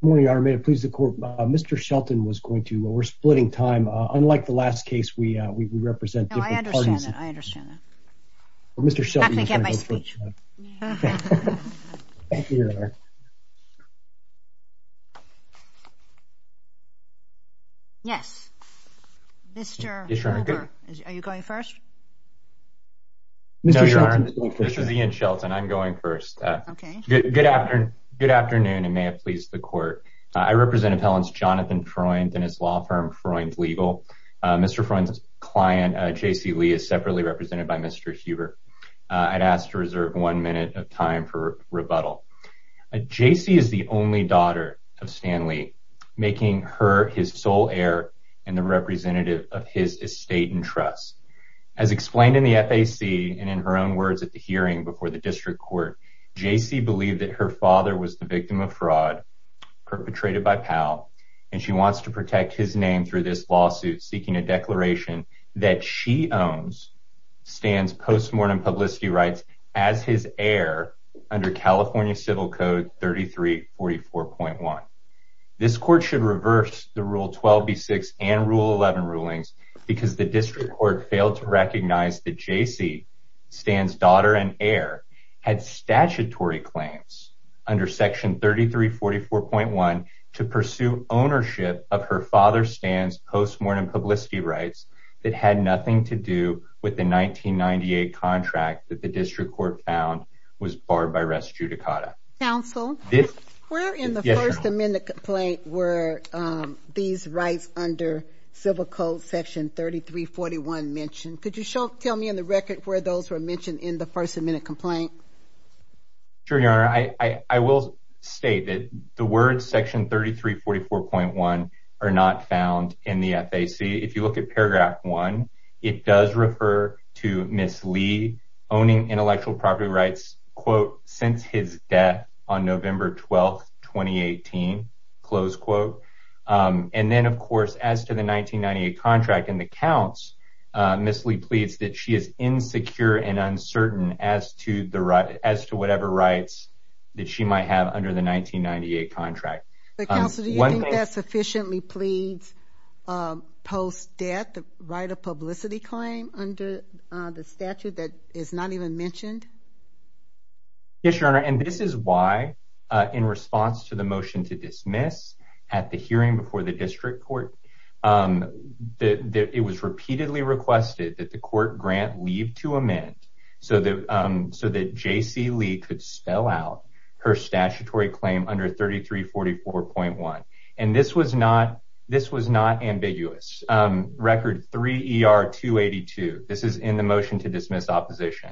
Good morning, Your Honor. May it please the Court, Mr. Shelton was going to, we're splitting time. Unlike the last case, we represent different parties. No, I understand that, I understand that. Well, Mr. Shelton is going to go first. I have to get my speech. Thank you, Your Honor. Yes, Mr. Hoover, are you going first? No, Your Honor, this is Ian Shelton. I'm going first. Good afternoon, and may it please the Court. I represent Appellants Jonathan Freund and his law firm Freund Legal. Mr. Freund's client, J.C. Lee, is separately represented by Mr. Hoover. I'd ask to reserve one minute of time for rebuttal. J.C. is the only daughter of Stan Lee, making her his sole heir and the representative of his estate and trusts. As explained in the FAC, and in her own words at the hearing before the District Court, J.C. believed that her father was the victim of fraud perpetrated by Powell, and she wants to protect his name through this lawsuit, seeking a declaration that she owns Stan's post-mortem publicity rights as his heir under California Civil Code 3344.1. This Court should reverse the Rule 12b-6 and Rule 11 rulings because the District Court failed to recognize that J.C., Stan's daughter and heir, had statutory claims under Section 3344.1 to pursue ownership of her father Stan's post-mortem publicity rights that had nothing to do with the 1998 contract that the District Court found was barred by res judicata. Counsel, where in the First Amendment complaint were these rights under Civil Code Section 3341 mentioned? Could you tell me in the record where those were mentioned in the First Amendment complaint? Sure, Your Honor. I will state that the words Section 3344.1 are not found in the FAC. If you look at paragraph one, it does refer to Ms. Lee owning intellectual property rights, quote, since his death on November 12, 2018, close quote. And then, of course, as to the 1998 contract in the counts, Ms. Lee pleads that she is insecure and uncertain as to the right, as to whatever rights that she might have under the 1998 contract. But Counsel, do you think that sufficiently pleads post-death right of publicity claim under the statute that is not even mentioned? Yes, Your Honor. And this is why, in response to the motion to dismiss at the hearing before the District Court, it was repeatedly requested that the court grant leave to amend so that J.C. Lee could spell out her statutory claim under 3344.1. And this was not this was not 282. This is in the motion to dismiss opposition.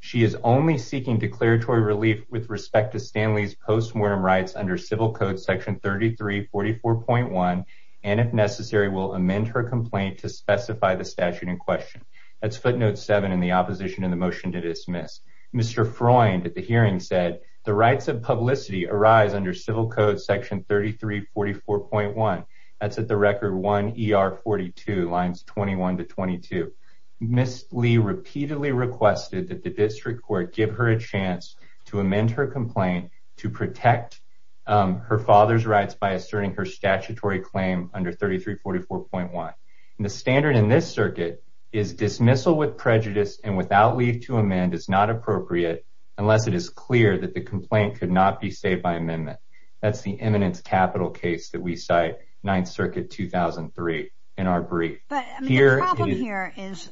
She is only seeking declaratory relief with respect to Stan Lee's postmortem rights under Civil Code Section 3344.1, and if necessary, will amend her complaint to specify the statute in question. That's footnote seven in the opposition in the motion to dismiss. Mr. Freund at the hearing said the rights of publicity arise under Civil Code Section 3344.1. That's at the record 1ER42, lines 21 to 22. Ms. Lee repeatedly requested that the District Court give her a chance to amend her complaint to protect her father's rights by asserting her statutory claim under 3344.1. And the standard in this circuit is dismissal with prejudice and without leave to amend is not appropriate unless it is clear that the complaint could not be saved by amendment. That's the eminence capital case that we cite, Ninth Circuit 2003, in our brief. But the problem here is,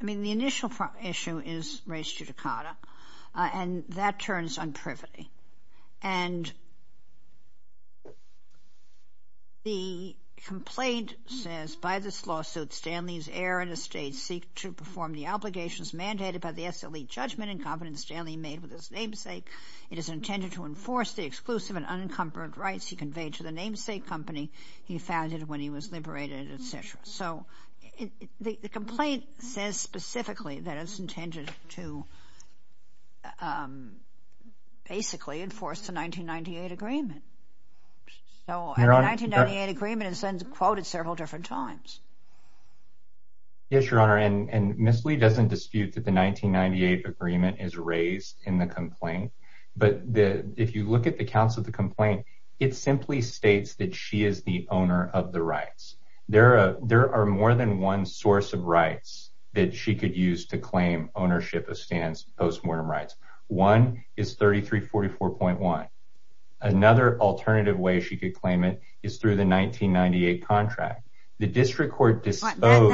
I mean, the initial issue is race judicata, and that turns on privity. And the complaint says, by this lawsuit, Stan Lee's heir and estate seek to perform the obligations mandated by the SLE judgment in confidence Stanley made with his namesake. It is intended to enforce the exclusive and unencumbered rights he conveyed to the namesake company he founded when he was liberated, etc. So the complaint says specifically that it's intended to basically enforce the 1998 agreement. So the 1998 agreement is quoted several different times. Yes, Your 1998 agreement is raised in the complaint. But if you look at the counts of the complaint, it simply states that she is the owner of the rights. There are more than one source of rights that she could use to claim ownership of Stan's postmortem rights. One is 3344.1. Another alternative way she could claim it is through the 1998 contract. The District Well, no,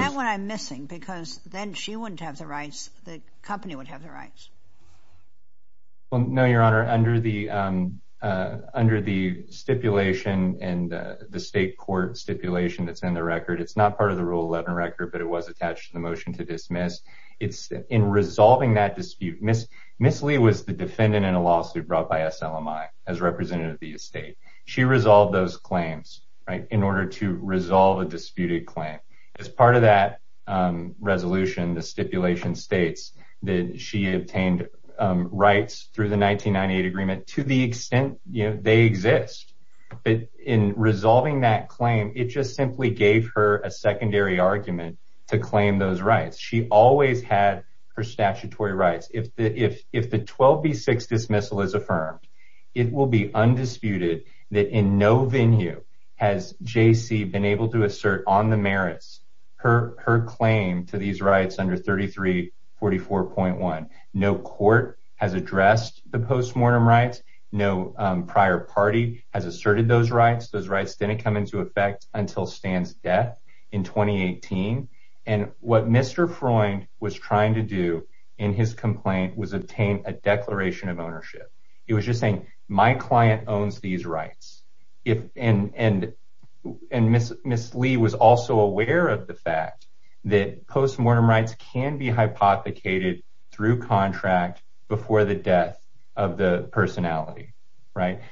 Your Honor, under the under the stipulation and the state court stipulation that's in the record, it's not part of the Rule 11 record, but it was attached to the motion to dismiss. It's in resolving that dispute. Miss Lee was the defendant in a lawsuit brought by SLMI as representative of the estate. She resolved those claims, right, in order to resolve a disputed claim. As part of that resolution, the stipulation states that she obtained rights through the 1998 agreement to the extent they exist. But in resolving that claim, it just simply gave her a secondary argument to claim those rights. She always had her statutory rights. If the 12B6 dismissal is affirmed, it will be undisputed that in no venue has JC been able to assert on the merits her claim to these rights under 3344.1. No court has addressed the postmortem rights. No prior party has asserted those rights. Those rights didn't come into effect until Stan's death in 2018. And what Mr. Freund was trying to do in his complaint was obtain a declaration of ownership. He was just saying, my client owns these rights. And Miss Lee was also aware of the fact that postmortem rights can be hypothecated through contract before the death of the personality.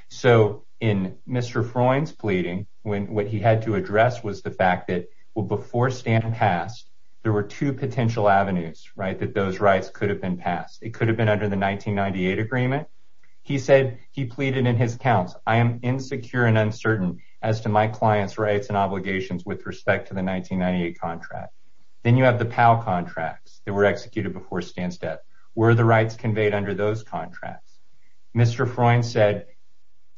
So in Mr. Freund's pleading, what he had to address was the fact that, well, before Stan passed, there were two potential avenues that those rights could have been passed. It could have been under the 1998 agreement. He said, he pleaded in his accounts, I am insecure and uncertain as to my client's rights and obligations with respect to the 1998 contract. Then you have the PAL contracts that were executed before Stan's death. Were the rights conveyed under those contracts? Mr. Freund said,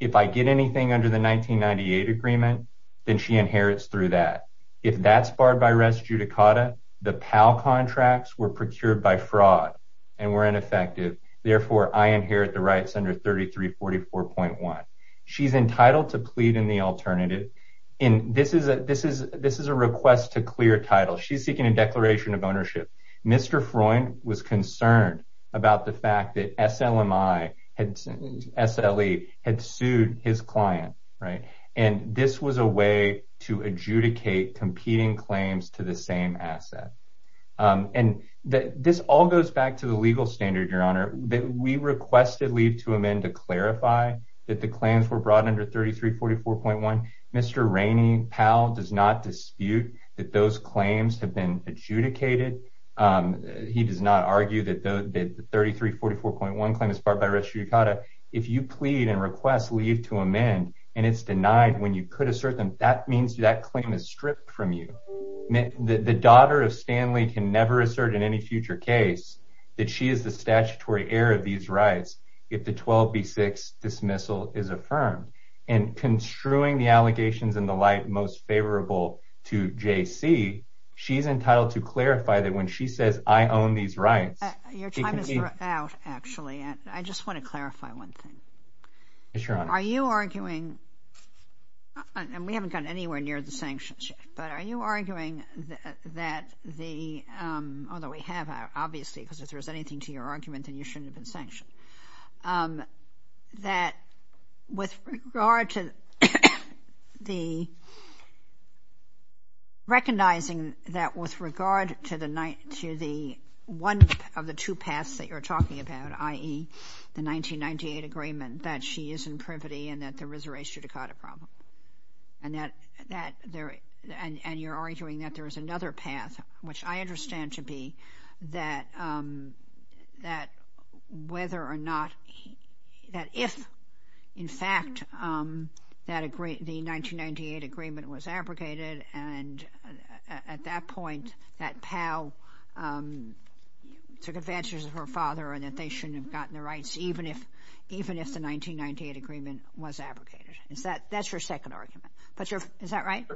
if I get anything under the 1998 agreement, then she inherits through that. If that's barred by under 3344.1. She's entitled to plead in the alternative. This is a request to clear title. She's seeking a declaration of ownership. Mr. Freund was concerned about the fact that SLMI, SLE had sued his client. And this was a way to adjudicate competing claims to the same asset. And this all goes back to the legal standard, your honor, that we requested leave to amend to clarify that the claims were brought under 3344.1. Mr. Rainey PAL does not dispute that those claims have been adjudicated. He does not argue that the 3344.1 claim is barred by res judicata. If you plead and request leave to amend, and it's denied when you could assert them, that means that claim is stripped from you. The daughter of Stanley can never assert in any future case that she is the statutory heir of these rights. If the 12B6 dismissal is affirmed and construing the allegations and the light most favorable to JC, she's entitled to clarify that when she says, I own these rights. Your time is out, actually. I just want to clarify one thing. Are you arguing, and we haven't gotten anywhere near the sanctions yet, but are you arguing that the, although we have obviously, because if there's anything to your argument, then you shouldn't have been sanctioned, that with regard to the recognizing that with regard to the one of the two paths that you're talking about, i.e. the 1998 agreement, that she is in privity and that there is a res judicata problem, and that there, and you're arguing that there is another path, which I understand to be that whether or not, that if, in fact, the 1998 agreement was abrogated and at that point that POW took advantage of her father and that they shouldn't have gotten the rights, even if the 1998 agreement was abrogated. Is that, that's your second argument, but your, is that right?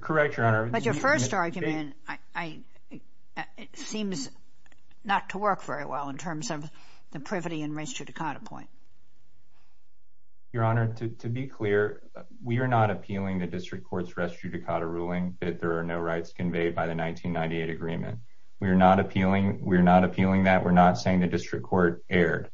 Correct, Your Honor. But your first argument, I, it seems not to work very well in terms of the privity and res judicata point. Your Honor, to be clear, we are not appealing the district conveyed by the 1998 agreement. We're not appealing, we're not appealing that. We're not saying the district court erred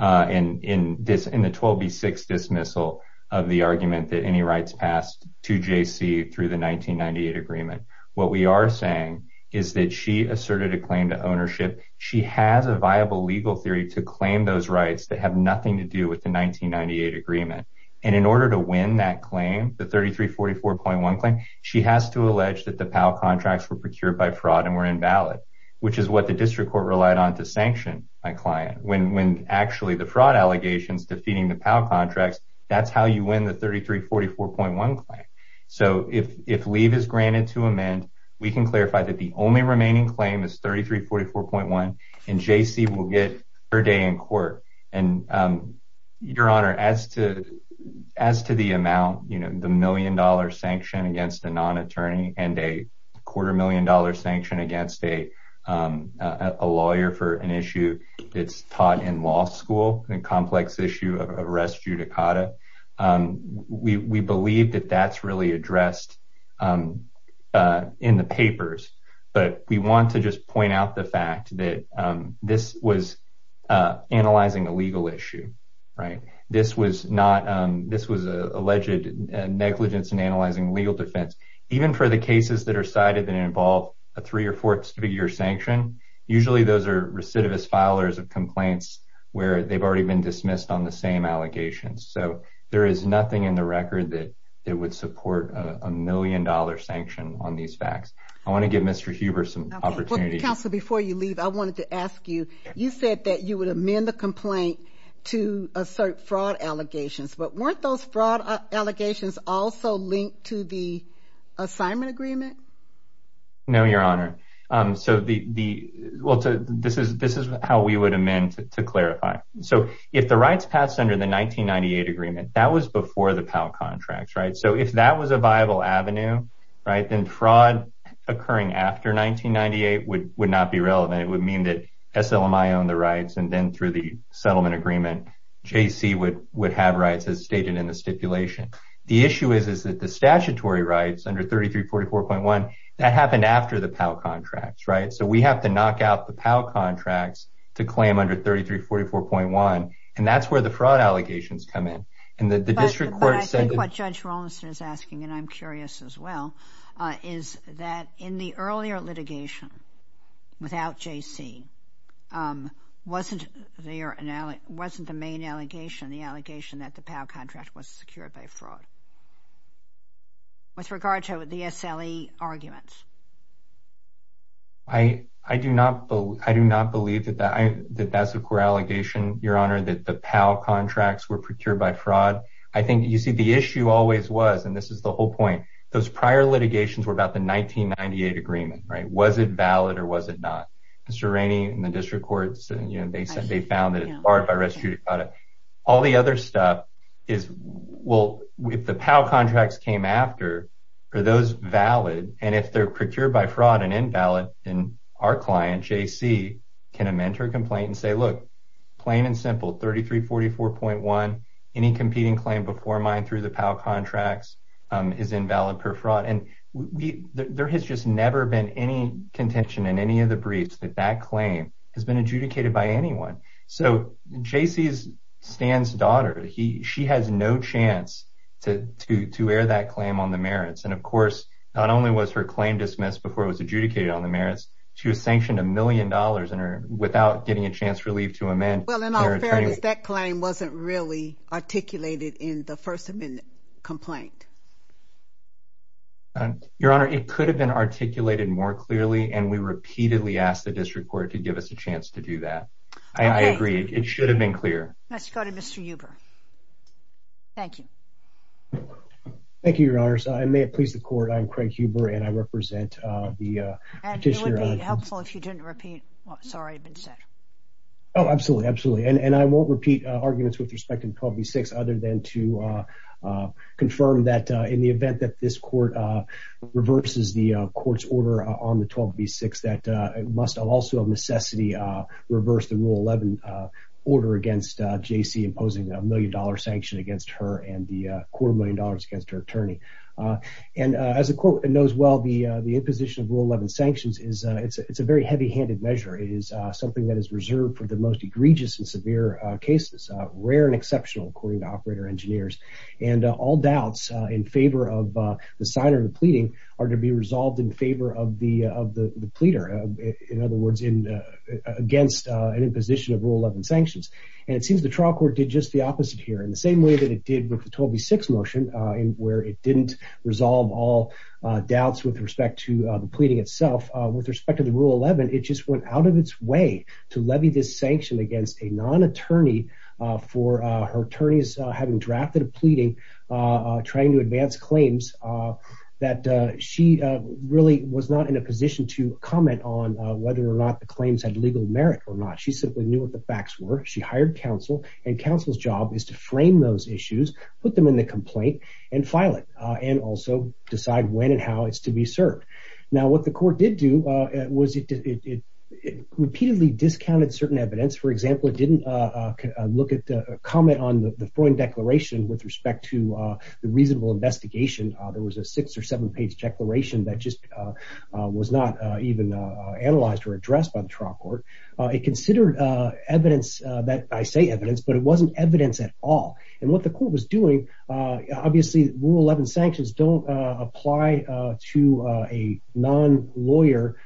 in this, in the 12B6 dismissal of the argument that any rights passed to JC through the 1998 agreement. What we are saying is that she asserted a claim to ownership. She has a viable legal theory to claim those rights that have nothing to do with the by fraud and were invalid, which is what the district court relied on to sanction my client. When, when actually the fraud allegations defeating the POW contracts, that's how you win the 3344.1 claim. So if, if leave is granted to amend, we can clarify that the only remaining claim is 3344.1 and JC will get her day in court. And Your Honor, as to, as to the amount, you know, the million dollar sanction against a non-attorney and a quarter million dollar sanction against a lawyer for an issue that's taught in law school, a complex issue of res judicata. We believe that that's really addressed in the papers, but we want to just point out the negligence in analyzing legal defense, even for the cases that are cited that involve a three or fourth figure sanction. Usually those are recidivist filers of complaints where they've already been dismissed on the same allegations. So there is nothing in the record that it would support a million dollar sanction on these facts. I want to give Mr. Huber some opportunity. Counselor, before you leave, I wanted to ask you, you said that you would amend the also linked to the assignment agreement? No, Your Honor. So the, well, this is, this is how we would amend to clarify. So if the rights passed under the 1998 agreement, that was before the PAL contracts, right? So if that was a viable avenue, right, then fraud occurring after 1998 would, would not be relevant. It would mean that SLMI owned the rights and then through the is that the statutory rights under 3344.1, that happened after the PAL contracts, right? So we have to knock out the PAL contracts to claim under 3344.1. And that's where the fraud allegations come in. And the district court said- But I think what Judge Rollinson is asking, and I'm curious as well, is that in the earlier litigation without JC, wasn't there, wasn't the main allegation, the allegation that the PAL contract was secured by fraud with regard to the SLE arguments? I, I do not believe, I do not believe that that's a core allegation, Your Honor, that the PAL contracts were procured by fraud. I think, you see, the issue always was, and this is the whole point, those prior litigations were about the 1998 agreement, right? Was it valid or was it not? Mr. Rainey and the district courts, you know, they said they found that it's barred by restituted product. All the other stuff is, well, if the PAL contracts came after, are those valid? And if they're procured by fraud and invalid, then our client, JC, can amend her complaint and say, look, plain and simple, 3344.1, any competing claim before mine through the PAL contracts is invalid per fraud. And there has just never been any contention in any of the briefs that that claim has been to, to, to air that claim on the merits. And of course, not only was her claim dismissed before it was adjudicated on the merits, she was sanctioned a million dollars in her without getting a chance relief to amend. Well, in all fairness, that claim wasn't really articulated in the first amendment complaint. Your Honor, it could have been articulated more clearly, and we repeatedly asked the district court to give us a chance to do that. I agree. It should have been clear. Let's go to Mr. Huber. Thank you. Thank you, Your Honors. I may have pleased the court. I'm Craig Huber, and I represent the petitioner. And it would be helpful if you didn't repeat. Sorry, I've been set. Oh, absolutely. Absolutely. And I won't repeat arguments with respect to 12B6 other than to confirm that in the event that this court reverses the court's order on the 12B6, that it must also have necessity reverse the Rule 11 order against J.C. imposing a million dollar sanction against her and the quarter million dollars against her attorney. And as the court knows well, the imposition of Rule 11 sanctions is, it's a very heavy handed measure. It is something that is reserved for the most egregious and severe cases, rare and exceptional, according to operator engineers. And all doubts in favor of the signer of the pleading are to be resolved in favor of the pleader. In other words, against an imposition of Rule 11 sanctions. And it seems the trial court did just the opposite here in the same way that it did with the 12B6 motion, where it didn't resolve all doubts with respect to the pleading itself. With respect to the Rule 11, it just went out of its way to levy this sanction against a non-attorney for her really was not in a position to comment on whether or not the claims had legal merit or not. She simply knew what the facts were. She hired counsel and counsel's job is to frame those issues, put them in the complaint and file it and also decide when and how it's to be served. Now, what the court did do was it repeatedly discounted certain evidence. For example, it didn't look at the comment on the Freud Declaration with respect to the reasonable investigation. There was a six or seven page declaration that just was not even analyzed or addressed by the trial court. It considered evidence that I say evidence, but it wasn't evidence at all. And what the court was doing, obviously Rule 11 sanctions don't apply to a non-lawyer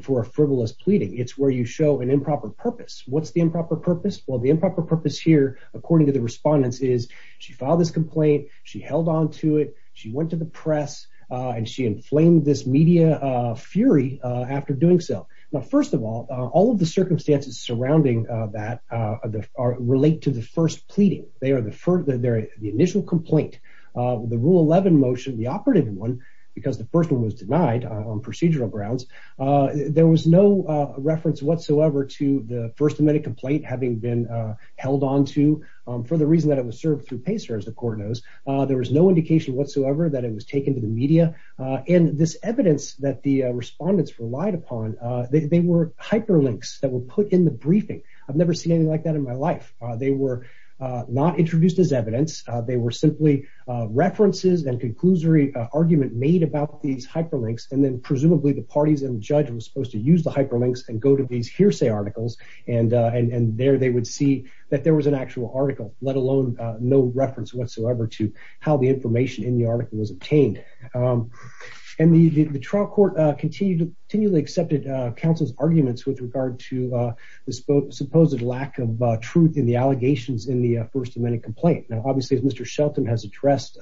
for a frivolous pleading. It's where you show an improper purpose. What's the improper purpose? Well, the improper purpose here, according to the respondents is she filed this complaint. She held on to it. She went to the press and she inflamed this media fury after doing so. Now, first of all, all of the circumstances surrounding that relate to the first pleading. They are the initial complaint. The Rule 11 motion, the operative one, because the first one was denied on procedural grounds, there was no reference whatsoever to the first amendment complaint having been held on to for the reason that it was served through PACER as the court knows. There was no indication whatsoever that it was taken to the media. And this evidence that the respondents relied upon, they were hyperlinks that were put in the briefing. I've never seen anything like that in my life. They were not introduced as evidence. They were simply references and conclusory argument made about these hyperlinks. And then presumably the parties and the judge was supposed to use the hyperlinks and go to these hearsay articles. And there they would see that there was an actual in the article was obtained. And the trial court continually accepted counsel's arguments with regard to the supposed lack of truth in the allegations in the first amendment complaint. Now, obviously, as Mr. Shelton has addressed,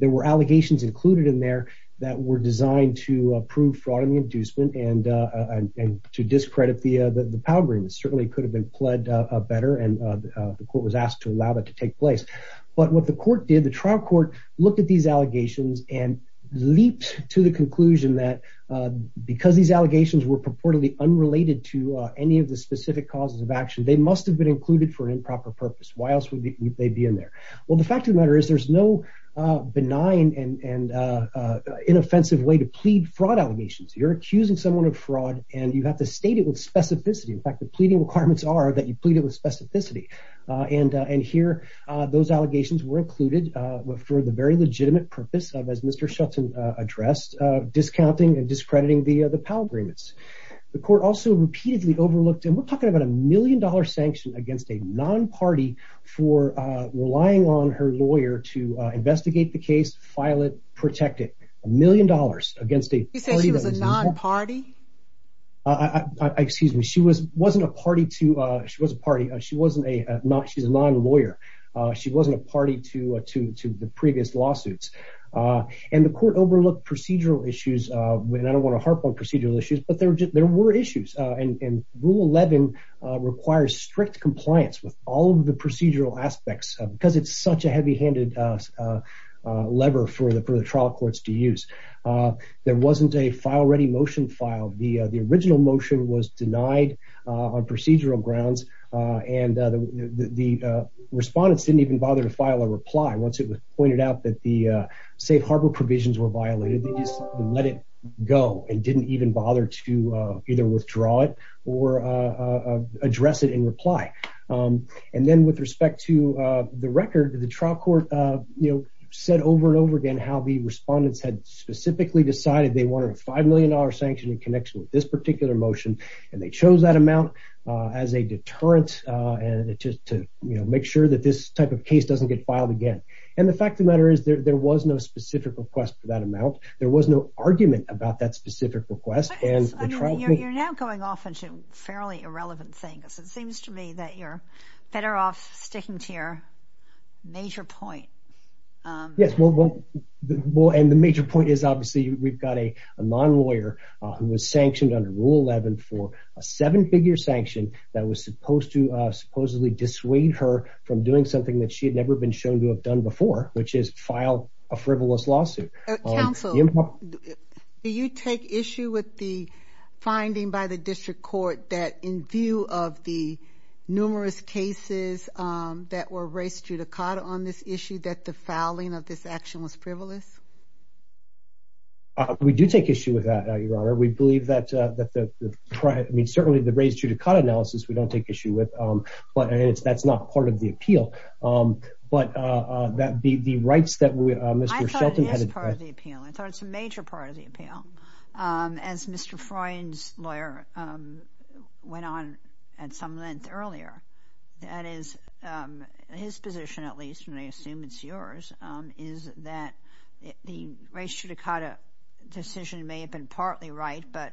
there were allegations included in there that were designed to prove fraud in the inducement and to discredit the power agreement. It certainly could have been pled better and the court was asked to allow that to take place. But what the trial court looked at these allegations and leaped to the conclusion that because these allegations were purportedly unrelated to any of the specific causes of action, they must have been included for an improper purpose. Why else would they be in there? Well, the fact of the matter is there's no benign and inoffensive way to plead fraud allegations. You're accusing someone of fraud and you have to state it with specificity. In fact, the pleading requirements are that you were for the very legitimate purpose of, as Mr. Shelton addressed, discounting and discrediting the power agreements. The court also repeatedly overlooked and we're talking about a million dollar sanction against a non-party for relying on her lawyer to investigate the case, file it, protect it. A million dollars against a party. You said she was a non-party? Excuse me. She was wasn't a party to she was a party. She wasn't a not she's a non-lawyer. She wasn't a party to the previous lawsuits. And the court overlooked procedural issues when I don't want to harp on procedural issues, but there were issues and Rule 11 requires strict compliance with all of the procedural aspects because it's such a heavy-handed lever for the trial courts to use. There wasn't a file-ready motion filed. The original motion was denied on procedural grounds and the respondents didn't even bother to file a reply once it was pointed out that the safe harbor provisions were violated. They just let it go and didn't even bother to either withdraw it or address it in reply. And then with respect to the record, the trial court, you know, said over and over again how the respondents had specifically decided they wanted a five million sanction in connection with this particular motion. And they chose that amount as a deterrent to make sure that this type of case doesn't get filed again. And the fact of the matter is there was no specific request for that amount. There was no argument about that specific request. You're now going off into fairly irrelevant things. It seems to me that you're better off sticking to your major point. Yes, well, and the major point is obviously we've got a non-lawyer who was sanctioned under Rule 11 for a seven-figure sanction that was supposed to supposedly dissuade her from doing something that she had never been shown to have done before, which is file a frivolous lawsuit. Council, do you take issue with the finding by the district court that in view of the numerous cases that were raised through the on this issue that the fouling of this action was frivolous? We do take issue with that, Your Honor. We believe that the, I mean, certainly the raised judicata analysis we don't take issue with. But that's not part of the appeal. But that be the rights that Mr. Shelton had. I thought it is part of the appeal. I thought it's a major part of the appeal. As Mr. Freund's lawyer went on at some length earlier, that is his position, at least, and I assume it's yours, is that the raised judicata decision may have been partly right, but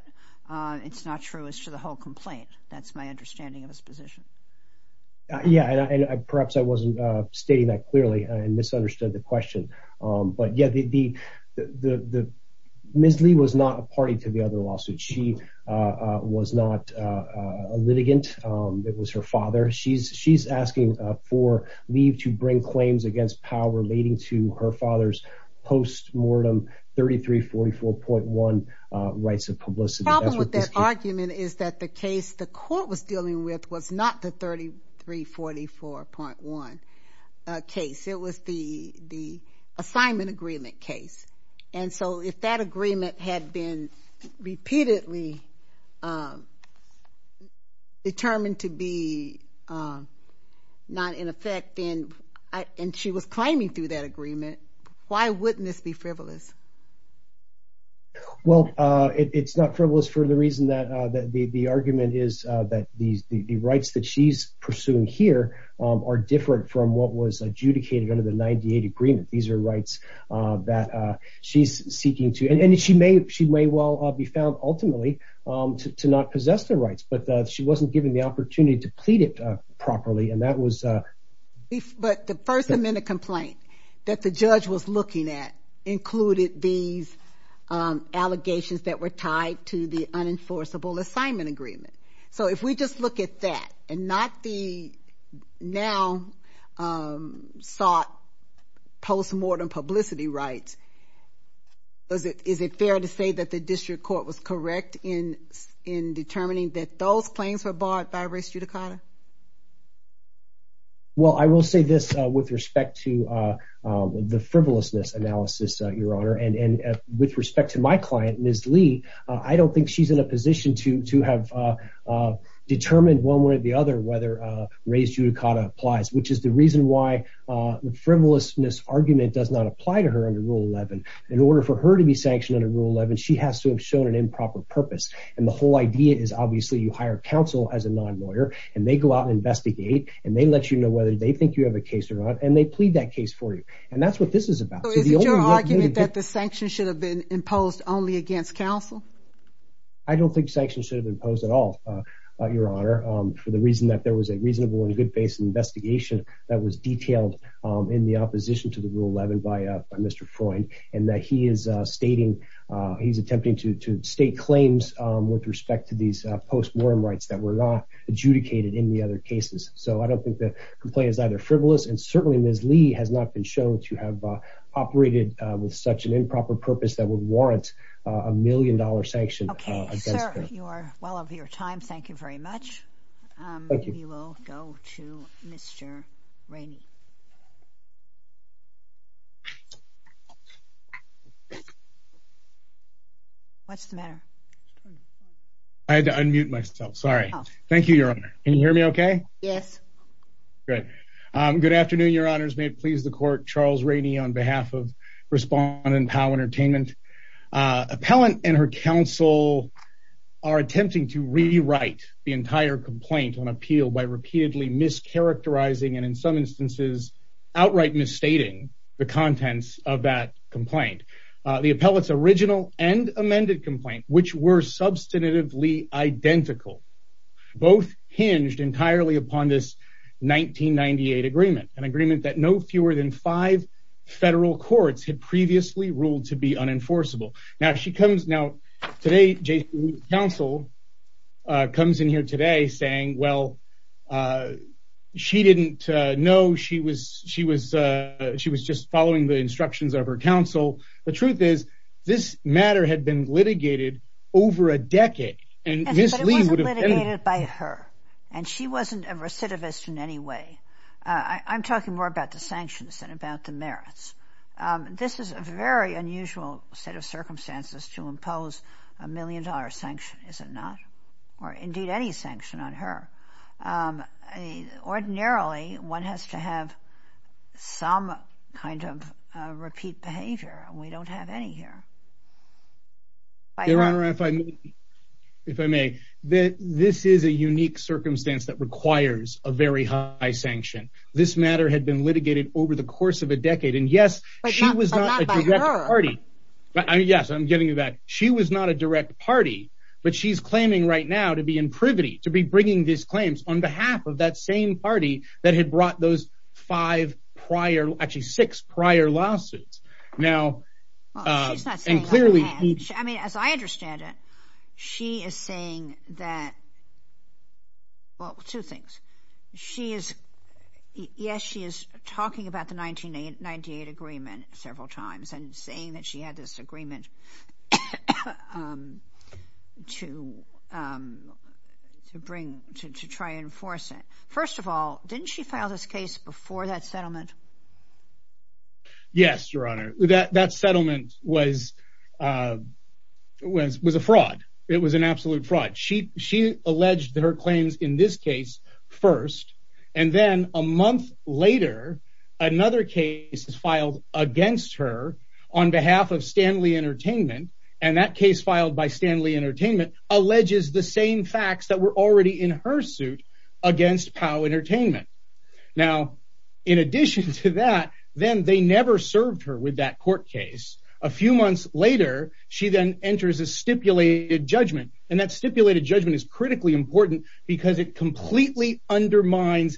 it's not true as to the whole complaint. That's my understanding of his position. Yeah, and perhaps I wasn't stating that clearly and misunderstood the question. But yeah, Ms. Lee was not a party to the other lawsuit. She was not a litigant. It was her father. She's asking for Lee to bring claims against Powell relating to her father's post-mortem 3344.1 rights of publicity. The problem with that argument is that the case the court was dealing with was not the 3344.1 case. It was the assignment agreement case. And so if that not in effect, and she was climbing through that agreement, why wouldn't this be frivolous? Well, it's not frivolous for the reason that the argument is that the rights that she's pursuing here are different from what was adjudicated under the 98 agreement. These are rights that she's seeking to, and she may well be found ultimately to not possess the rights, but she wasn't given the opportunity to plead it properly, and that was... But the first amendment complaint that the judge was looking at included these allegations that were tied to the unenforceable assignment agreement. So if we just look at that and not the now sought post-mortem publicity rights, is it fair to say that the district court was correct in determining that those claims were bought by race judicata? Well, I will say this with respect to the frivolousness analysis, Your Honor, and with respect to my client, Ms. Lee, I don't think she's in a position to have determined one way or the other whether race judicata applies, which is the reason why the frivolousness argument does not purpose, and the whole idea is obviously you hire counsel as a non-lawyer, and they go out and investigate, and they let you know whether they think you have a case or not, and they plead that case for you, and that's what this is about. So is it your argument that the sanctions should have been imposed only against counsel? I don't think sanctions should have imposed at all, Your Honor, for the reason that there was a reasonable and good-faced investigation that was detailed in the opposition to the Rule 11 by Mr. Freund, and that he is stating, he's attempting to state claims with respect to these post-mortem rights that were not adjudicated in the other cases. So I don't think the complaint is either frivolous, and certainly, Ms. Lee has not been shown to have operated with such an improper purpose that would warrant a million-dollar sanction against her. Okay, sir, you are well over your time. Thank you very much. Thank you. We will go to Mr. Rainey. What's the matter? I had to unmute myself. Sorry. Thank you, Your Honor. Can you hear me okay? Yes. Good. Good afternoon, Your Honors. May it please the Court, Charles Rainey on behalf of Respondent Powell Entertainment. Appellant and her counsel are attempting to rewrite the entire complaint on appeal by repeatedly mischaracterizing and, in some instances, outright misstating the contents of that complaint. The appellate's original and amended complaint, which were substantively identical, both hinged entirely upon this 1998 agreement, an agreement that no fewer than five federal courts had previously ruled to be unenforceable. Now, well, she didn't know. She was just following the instructions of her counsel. The truth is, this matter had been litigated over a decade, and Ms. Lee would have been... But it wasn't litigated by her, and she wasn't a recidivist in any way. I'm talking more about the sanctions than about the merits. This is a very unusual set of circumstances to impose a million-dollar sanction, is it not? Or, indeed, any sanction on her. Ordinarily, one has to have some kind of repeat behavior, and we don't have any here. Your Honor, if I may, this is a unique circumstance that requires a very high sanction. This matter had been litigated over the course of a decade, and yes, she was not a direct party. Yes, I'm getting you back. She was not a direct party, but she's claiming right now to be in privity, to be bringing these claims on behalf of that same party that had brought those five prior... Actually, six prior lawsuits. Now... Well, she's not saying... And clearly... I mean, as I understand it, she is saying that... Well, two things. She is... Yes, she is talking about the 1998 agreement several times and saying that she had this agreement to bring, to try and enforce it. First of all, didn't she file this case before that settlement? Yes, Your Honor. That settlement was a fraud. It was an absolute fraud. She alleged that her another case filed against her on behalf of Stanley Entertainment, and that case filed by Stanley Entertainment alleges the same facts that were already in her suit against POW Entertainment. Now, in addition to that, then they never served her with that court case. A few months later, she then enters a stipulated judgment, and that stipulated judgment is critically important because it completely undermines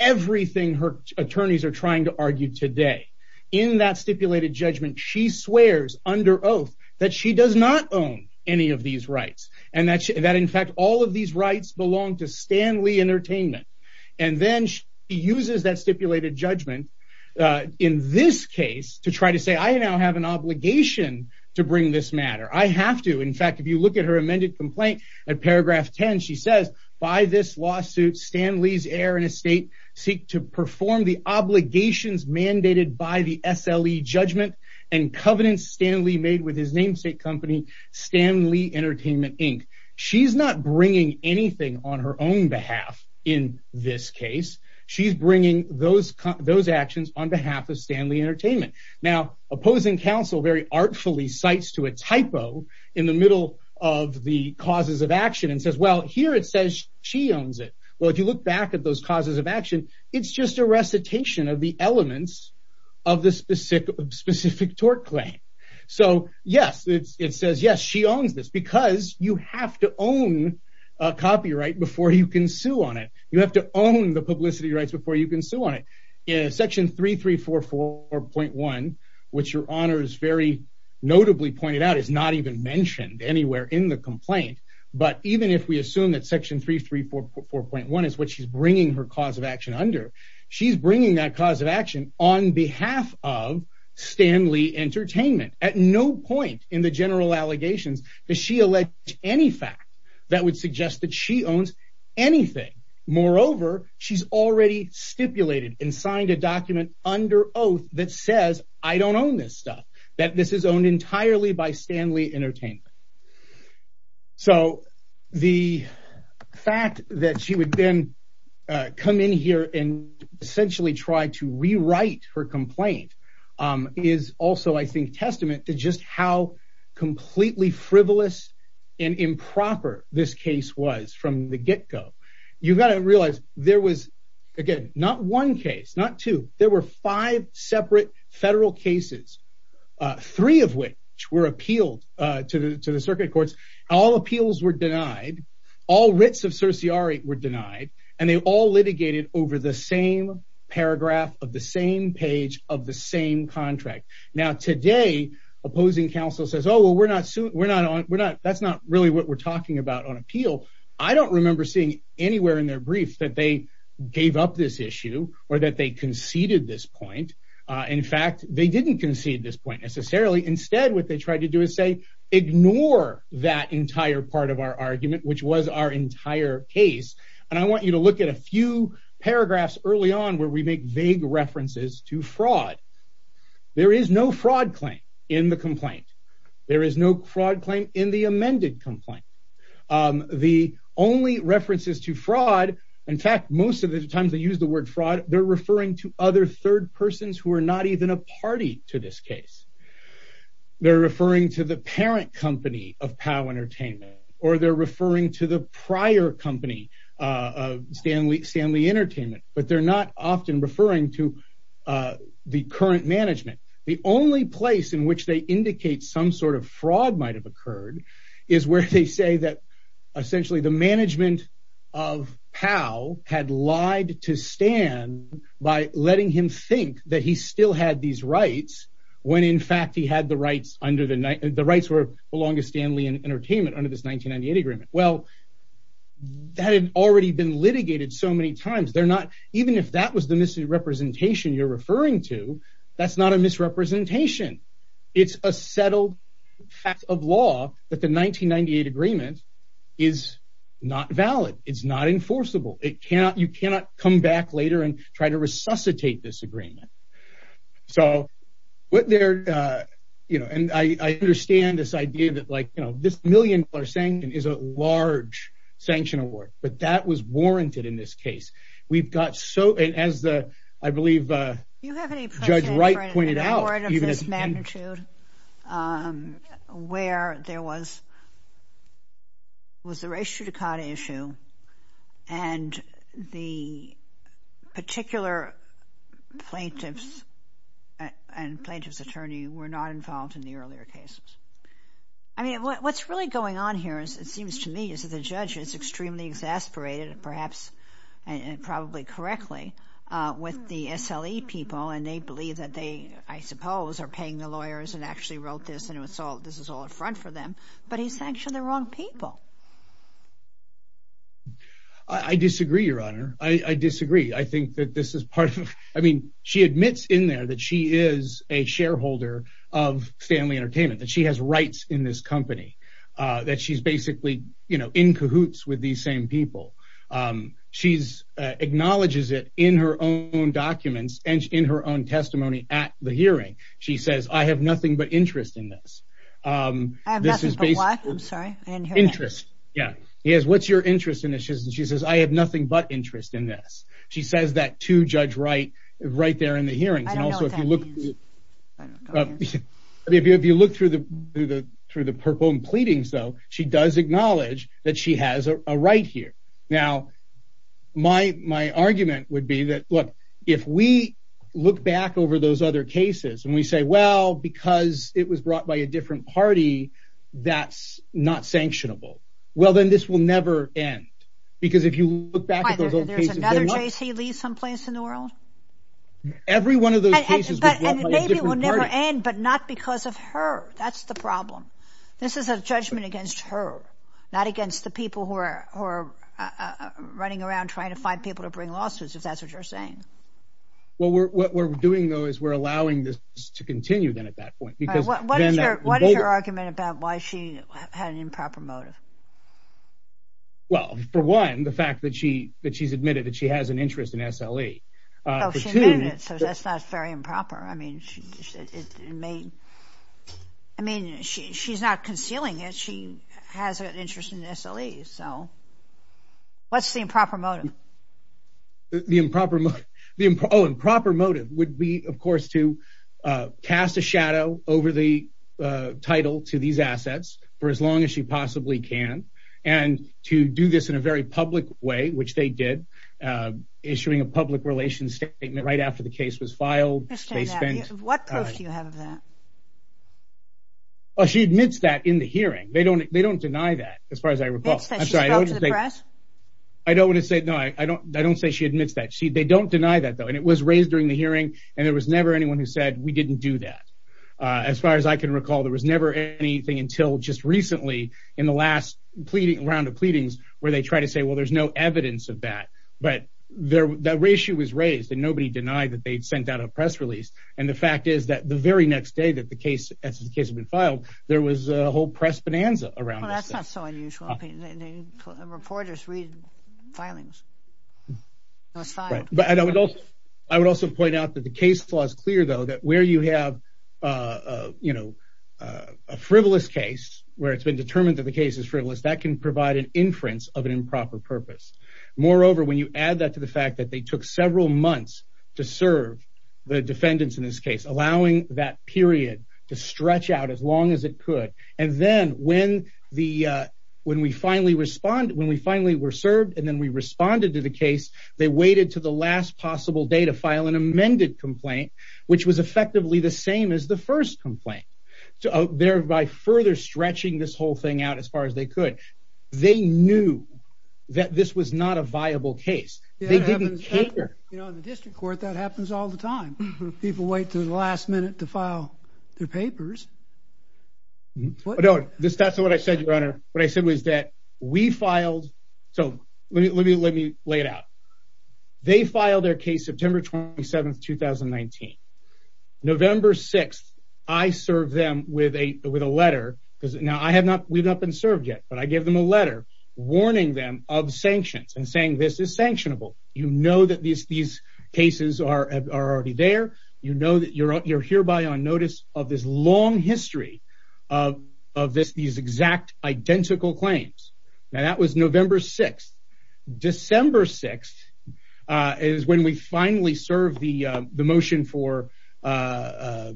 everything her attorneys are trying to argue today. In that stipulated judgment, she swears under oath that she does not own any of these rights, and that, in fact, all of these rights belong to Stanley Entertainment. And then she uses that stipulated judgment in this case to try to say, I now have an obligation to bring this matter. I have to. In fact, if you look at her amended complaint at paragraph 10, she says, by this lawsuit, Stanley's heir and estate seek to perform the obligations mandated by the SLE judgment and covenants Stanley made with his namesake company, Stanley Entertainment, Inc. She's not bringing anything on her own behalf in this case. She's bringing those actions on behalf of Stanley Entertainment. Now, opposing counsel very artfully cites to a typo in the middle of the causes of action and says, well, here it says she owns it. Well, if you look back at those causes of action, it's just a recitation of the elements of the specific tort claim. So, yes, it says, yes, she owns this because you have to own copyright before you can sue on it. You have to own the notably pointed out is not even mentioned anywhere in the complaint. But even if we assume that section three, three, four, four point one is what she's bringing her cause of action under. She's bringing that cause of action on behalf of Stanley Entertainment at no point in the general allegations that she alleged any fact that would suggest that she owns anything. Moreover, she's already stipulated and signed a document under oath that says I don't own this stuff, that this is owned entirely by Stanley Entertainment. So the fact that she would then come in here and essentially try to rewrite her complaint is also, I think, testament to just how again, not one case, not two. There were five separate federal cases, three of which were appealed to the circuit courts. All appeals were denied. All writs of certiorari were denied. And they all litigated over the same paragraph of the same page of the same contract. Now, today, opposing counsel says, oh, well, we're not on. That's not really what we're talking about on gave up this issue or that they conceded this point. In fact, they didn't concede this point necessarily. Instead, what they tried to do is say, ignore that entire part of our argument, which was our entire case. And I want you to look at a few paragraphs early on where we make vague references to fraud. There is no fraud claim in the complaint. There is no fraud claim in the complaint. Most of the times they use the word fraud, they're referring to other third persons who are not even a party to this case. They're referring to the parent company of POW Entertainment or they're referring to the prior company of Stanley Entertainment. But they're not often referring to the current management. The only place in which they indicate some sort of fraud might have occurred is where they say that essentially the management of POW had lied to Stan by letting him think that he still had these rights when, in fact, he had the rights under the rights that belonged to Stanley Entertainment under this 1998 agreement. Well, that had already been litigated so many times. Even if that was the misrepresentation you're the 1998 agreement is not valid. It's not enforceable. You cannot come back later and try to resuscitate this agreement. I understand this idea that this million-dollar sanction is a large sanction award, but that was warranted in this case. We've got so, and as I believe Judge Wright pointed out, even at this magnitude, where there was a race judicata issue and the particular plaintiffs and plaintiff's attorney were not involved in the earlier cases. I mean, what's really going on here, it seems to me, is that judge is extremely exasperated, perhaps and probably correctly, with the SLE people and they believe that they, I suppose, are paying the lawyers and actually wrote this and this is all a front for them, but he sanctioned the wrong people. I disagree, Your Honor. I disagree. I think that this is part of, I mean, she admits in there that she is a shareholder of Stanley Entertainment, that she has rights in this company, that she's basically in cahoots with these same people. She acknowledges it in her own documents and in her own testimony at the hearing. She says, I have nothing but interest in this. I have nothing but what? I'm sorry, I didn't hear that. Interest, yeah. What's your interest in this? She says, I have nothing but interest in this. She says that to Judge Wright right there in the hearings. I don't know what that means. I mean, if you look through the purple and pleadings, though, she does acknowledge that she has a right here. Now, my argument would be that, look, if we look back over those other cases and we say, well, because it was brought by a different party, that's not sanctionable. Well, then this will never end, because if you look back at those old cases. Every one of those cases was brought by a different party. And maybe it will never end, but not because of her. That's the problem. This is a judgment against her, not against the people who are running around trying to find people to bring lawsuits, if that's what you're saying. Well, what we're doing, though, is we're allowing this to continue then at that point. What is your argument about why she had an improper motive? Well, for one, the fact that she's admitted that she has an interest in SLE. Oh, she admitted it, so that's not very improper. I mean, she's not concealing it. She has an interest in SLE. So what's the improper motive? The improper motive would be, of course, to cast a shadow over the title to these assets for as long as she possibly can, and to do this in a very public way, which they did, issuing a public relations statement right after the case was filed. What proof do you have of that? Well, she admits that in the hearing. They don't deny that, as far as I recall. I don't want to say she admits that. They don't deny that, though. And it was raised during the hearing, and there was never anyone who said, we didn't do that. As far as I can recently, in the last round of pleadings, where they tried to say, well, there's no evidence of that. But that ratio was raised, and nobody denied that they'd sent out a press release. And the fact is that the very next day that the case had been filed, there was a whole press bonanza around this. Well, that's not so unusual. Reporters read filings. I would also point out that the case flaw is clear, though, that where you have a frivolous case, where it's been determined that the case is frivolous, that can provide an inference of an improper purpose. Moreover, when you add that to the fact that they took several months to serve the defendants in this case, allowing that period to stretch out as long as it could, and then when we finally were served and then we responded to the case, they waited to the last possible day to file an amended complaint, which was effectively the same as the first complaint, thereby further stretching this whole thing out as far as they could. They knew that this was not a viable case. They didn't care. You know, in the district court, that happens all the time. People wait to the last minute to file their papers. No, that's not what I said, Your Honor. What I said was that we filed... So let me lay it out. They filed their case September 27th, 2019. November 6th, I served them with a letter, because now we've not been served yet, but I gave them a letter warning them of sanctions and saying this is sanctionable. You know that these cases are already there. You know that you're hereby on notice of this long history of these exact identical claims. Now, that was is when we finally served the motion for... I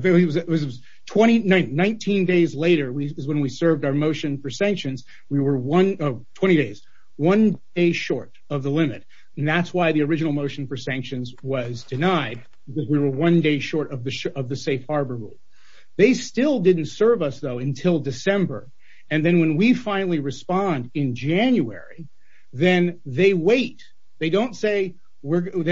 think it was 19 days later is when we served our motion for sanctions. We were 20 days, one day short of the limit, and that's why the original motion for sanctions was denied, because we were one day short of the safe harbor rule. They still didn't serve us though until December, and then when we finally respond in January, then they wait. They don't tell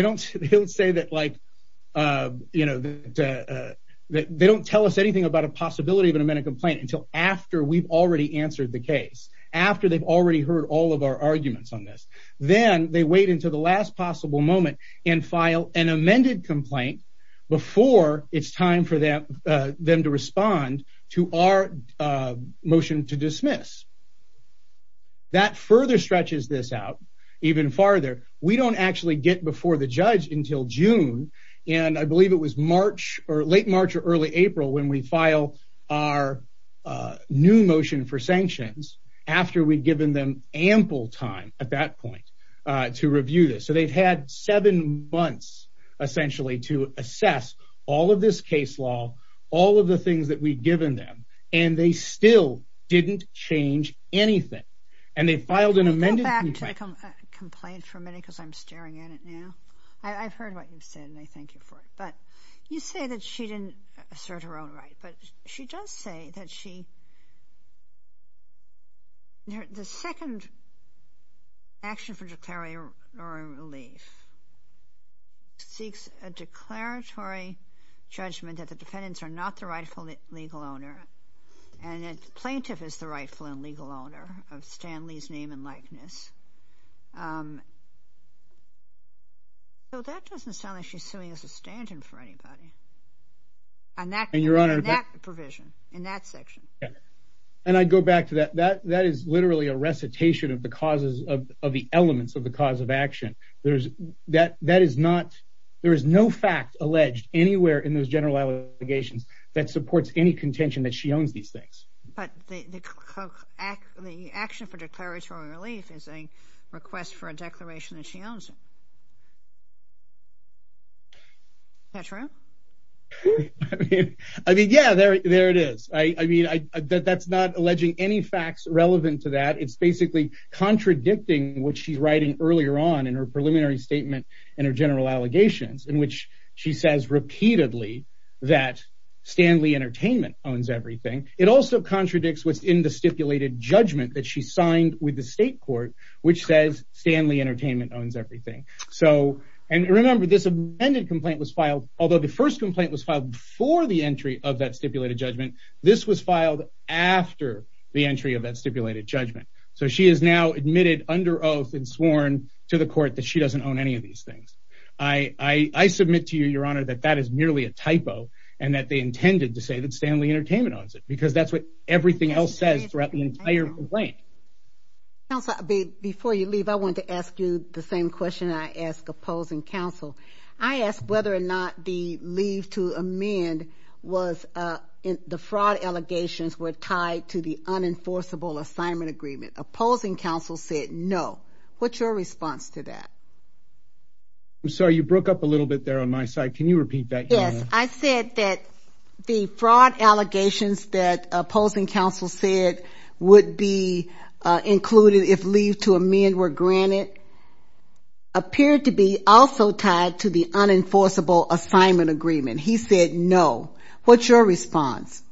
us anything about a possibility of an amended complaint until after we've already answered the case, after they've already heard all of our arguments on this. Then they wait until the last possible moment and file an amended complaint before it's time for them to respond to our motion to dismiss. That further stretches this out even farther. We don't actually get before the judge until June, and I believe it was March or late March or early April when we file our new motion for sanctions after we've given them ample time at that point to all of the things that we've given them, and they still didn't change anything, and they filed an amended complaint... Can we go back to the complaint for a minute, because I'm staring at it now? I've heard what you've said, and I thank you for it, but you say that she didn't assert her own right, but she does say that she... The second action for declaratory relief seeks a declaratory judgment that the defendants are not the rightful legal owner, and a plaintiff is the rightful and legal owner of Stanley's name and likeness, so that doesn't sound like she's suing us a stand-in for anybody on that provision in that section. And I'd go back to that. That is literally a recitation of the causes of the elements of the cause of action. There is no fact alleged anywhere in those general allegations that supports any contention that she owns these things. But the action for declaratory relief is a request for a declaration that she owns it. Petra? I mean, yeah, there it is. I mean, that's not alleging any facts relevant to that. It's basically contradicting what she's writing earlier on in her preliminary statement in her general allegations, in which she says repeatedly that Stanley Entertainment owns everything. It also contradicts what's in the stipulated judgment that she signed with the and remember, this amended complaint was filed, although the first complaint was filed before the entry of that stipulated judgment, this was filed after the entry of that stipulated judgment. So she is now admitted under oath and sworn to the court that she doesn't own any of these things. I submit to you, Your Honor, that that is merely a typo and that they intended to say that Stanley Entertainment owns it because that's what everything else says throughout the entire complaint. Counsel, before you leave, I want to ask you the same question I asked opposing counsel. I asked whether or not the leave to amend was in the fraud allegations were tied to the unenforceable assignment agreement. Opposing counsel said no. What's your response to that? I'm sorry, you broke up a little bit there on my side. Can you repeat that? I said that the fraud allegations that opposing counsel said would be included if leave to amend were granted appeared to be also tied to the unenforceable assignment agreement. He said no. What's your response?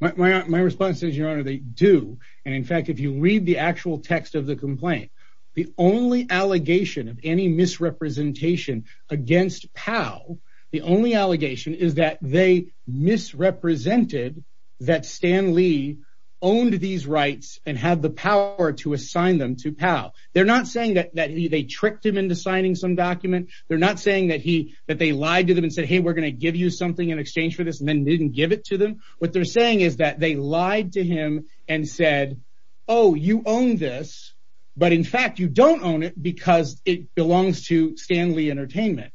My response is, Your Honor, they do. And in fact, if you read the actual text of the complaint, the only allegation of any misrepresentation against POW, the only allegation is that they misrepresented that Stanley owned these rights and had the power to assign them to POW. They're not saying that they tricked him into signing some document. They're not saying that they lied to them and said, hey, we're going to give you something in exchange for this and then didn't give it to them. What they're saying is that they lied to him and said, oh, you own this, but in fact, you don't own it because it belongs to Entertainment.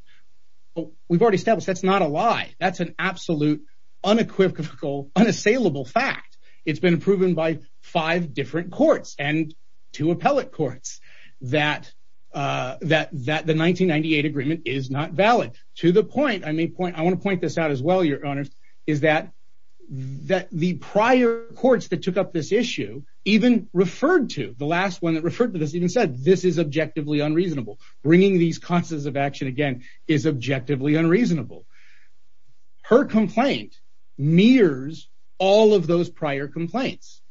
We've already established that's not a lie. That's an absolute unequivocal, unassailable fact. It's been proven by five different courts and two appellate courts that the 1998 agreement is not valid. To the point, I want to point this out as well, Your Honor, is that the prior courts that took up this issue even referred to, the last one that referred to this is objectively unreasonable. Bringing these constants of action again is objectively unreasonable. Her complaint mirrors all of those prior complaints.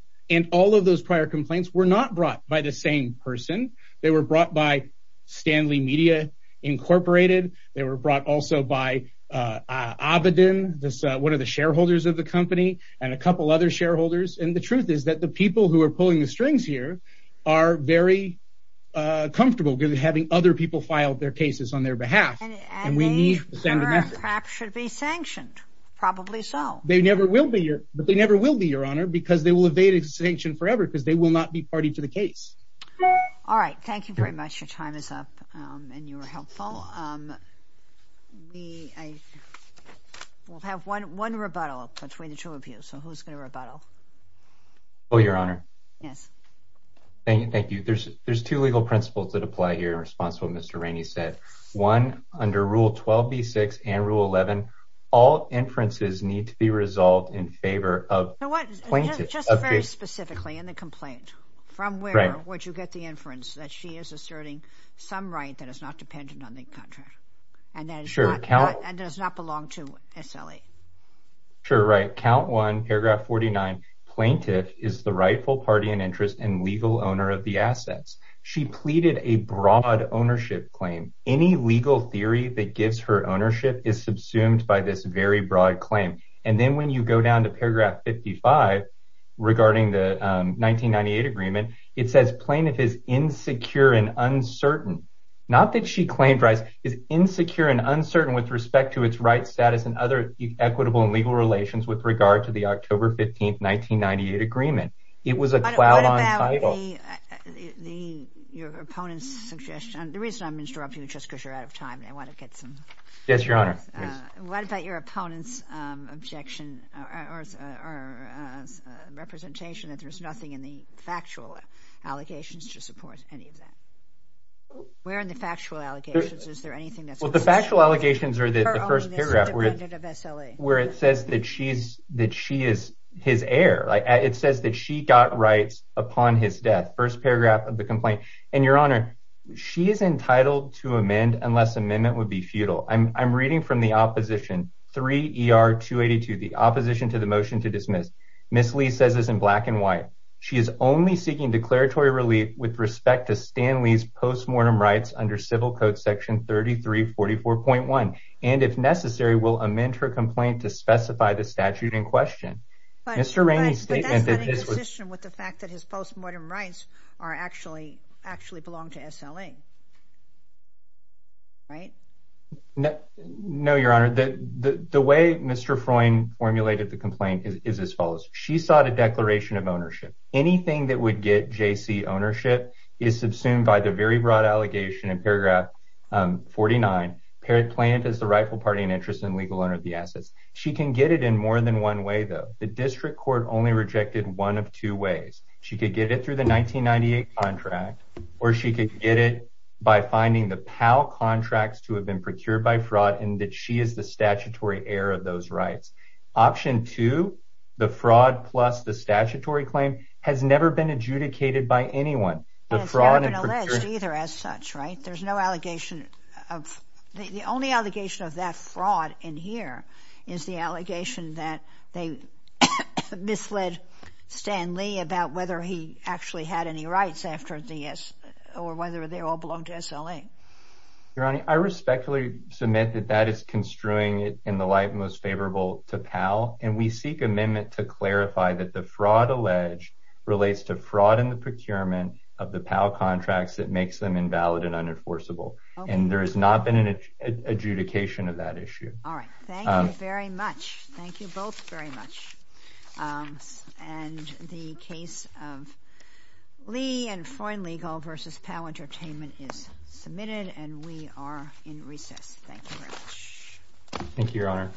All of those prior complaints were not brought by the same person. They were brought by Stanley Media Incorporated. They were brought also by Abedin, one of the shareholders of the company, and a couple other shareholders. The truth is that the people who are pulling the strings here are very comfortable with having other people file their cases on their behalf. And they should be sanctioned. Probably so. They never will be, Your Honor, because they will evade sanction forever because they will not be party to the case. All right. Thank you very much. Your time is up and you were helpful. We'll have one rebuttal between the two of you. Who's going to rebuttal? Oh, Your Honor. Yes. Thank you. There's two legal principles that apply here in response to what Mr. Rainey said. One, under Rule 12b-6 and Rule 11, all inferences need to be resolved in favor of plaintiffs. Just very specifically in the complaint, from where would you get the inference that she is asserting some right that is not dependent on the contract and does not belong to SLA? Sure. Right. Count 1, paragraph 49, plaintiff is the rightful party in interest and legal owner of the assets. She pleaded a broad ownership claim. Any legal theory that gives her ownership is subsumed by this very broad claim. And then when you go down to paragraph 55 regarding the 1998 agreement, it says plaintiff is insecure and uncertain. Not that she claimed is insecure and uncertain with respect to its right status and other equitable and legal relations with regard to the October 15, 1998 agreement. It was a cloud on title. Your opponent's suggestion, the reason I'm interrupting you just because you're out of time and I want to get some. Yes, Your Honor. What about your opponent's objection or representation that there's nothing in the factual allegations to support any of that? Where are the factual allegations? Is there anything? Well, the factual allegations are the first paragraph where it says that she's that she is his heir. It says that she got rights upon his death. First paragraph of the complaint. And Your Honor, she is entitled to amend unless amendment would be futile. I'm reading from the opposition 3 ER 282, the opposition to the motion to dismiss. Miss Lee says is in black and white. She is only seeking declaratory relief with respect to Stanley's postmortem rights under Civil Code Section 33 44.1 and, if necessary, will amend her complaint to specify the statute in question. Mr. Rainey's statement with the fact that his postmortem rights are actually actually belong to S. L. A. Right? No, Your Honor. The way Mr. Freund formulated the complaint is as follows. She sought a declaration of ownership. Anything that would get J. C. Ownership is subsumed by the very broad allegation in paragraph 49 parent plant is the rightful party and interest in legal owner of the assets. She can get it in more than one way, though the district court only rejected one of two ways. She could get it through the 1998 contract, or she could get it by finding the power contracts to have been procured by fraud and that she is the statutory heir of those rights. Option to the fraud plus the statutory claim has never been adjudicated by anyone. The fraud has been alleged either as such, right? There's no allegation of the only allegation of that fraud in here is the allegation that they misled Stanley about whether he actually had any rights after the S or whether they all belong to S. L. A. Your Honor, I respectfully submit that that is construing it in the light most favorable to Powell, and we seek amendment to clarify that the fraud alleged relates to fraud in the procurement of the power contracts that makes them invalid and unenforceable, and there has not been an adjudication of that issue. All right. Thank you very much. Thank you both very much. Um, and the case of Lee and foreign legal versus power entertainment is thank you, Your Honor.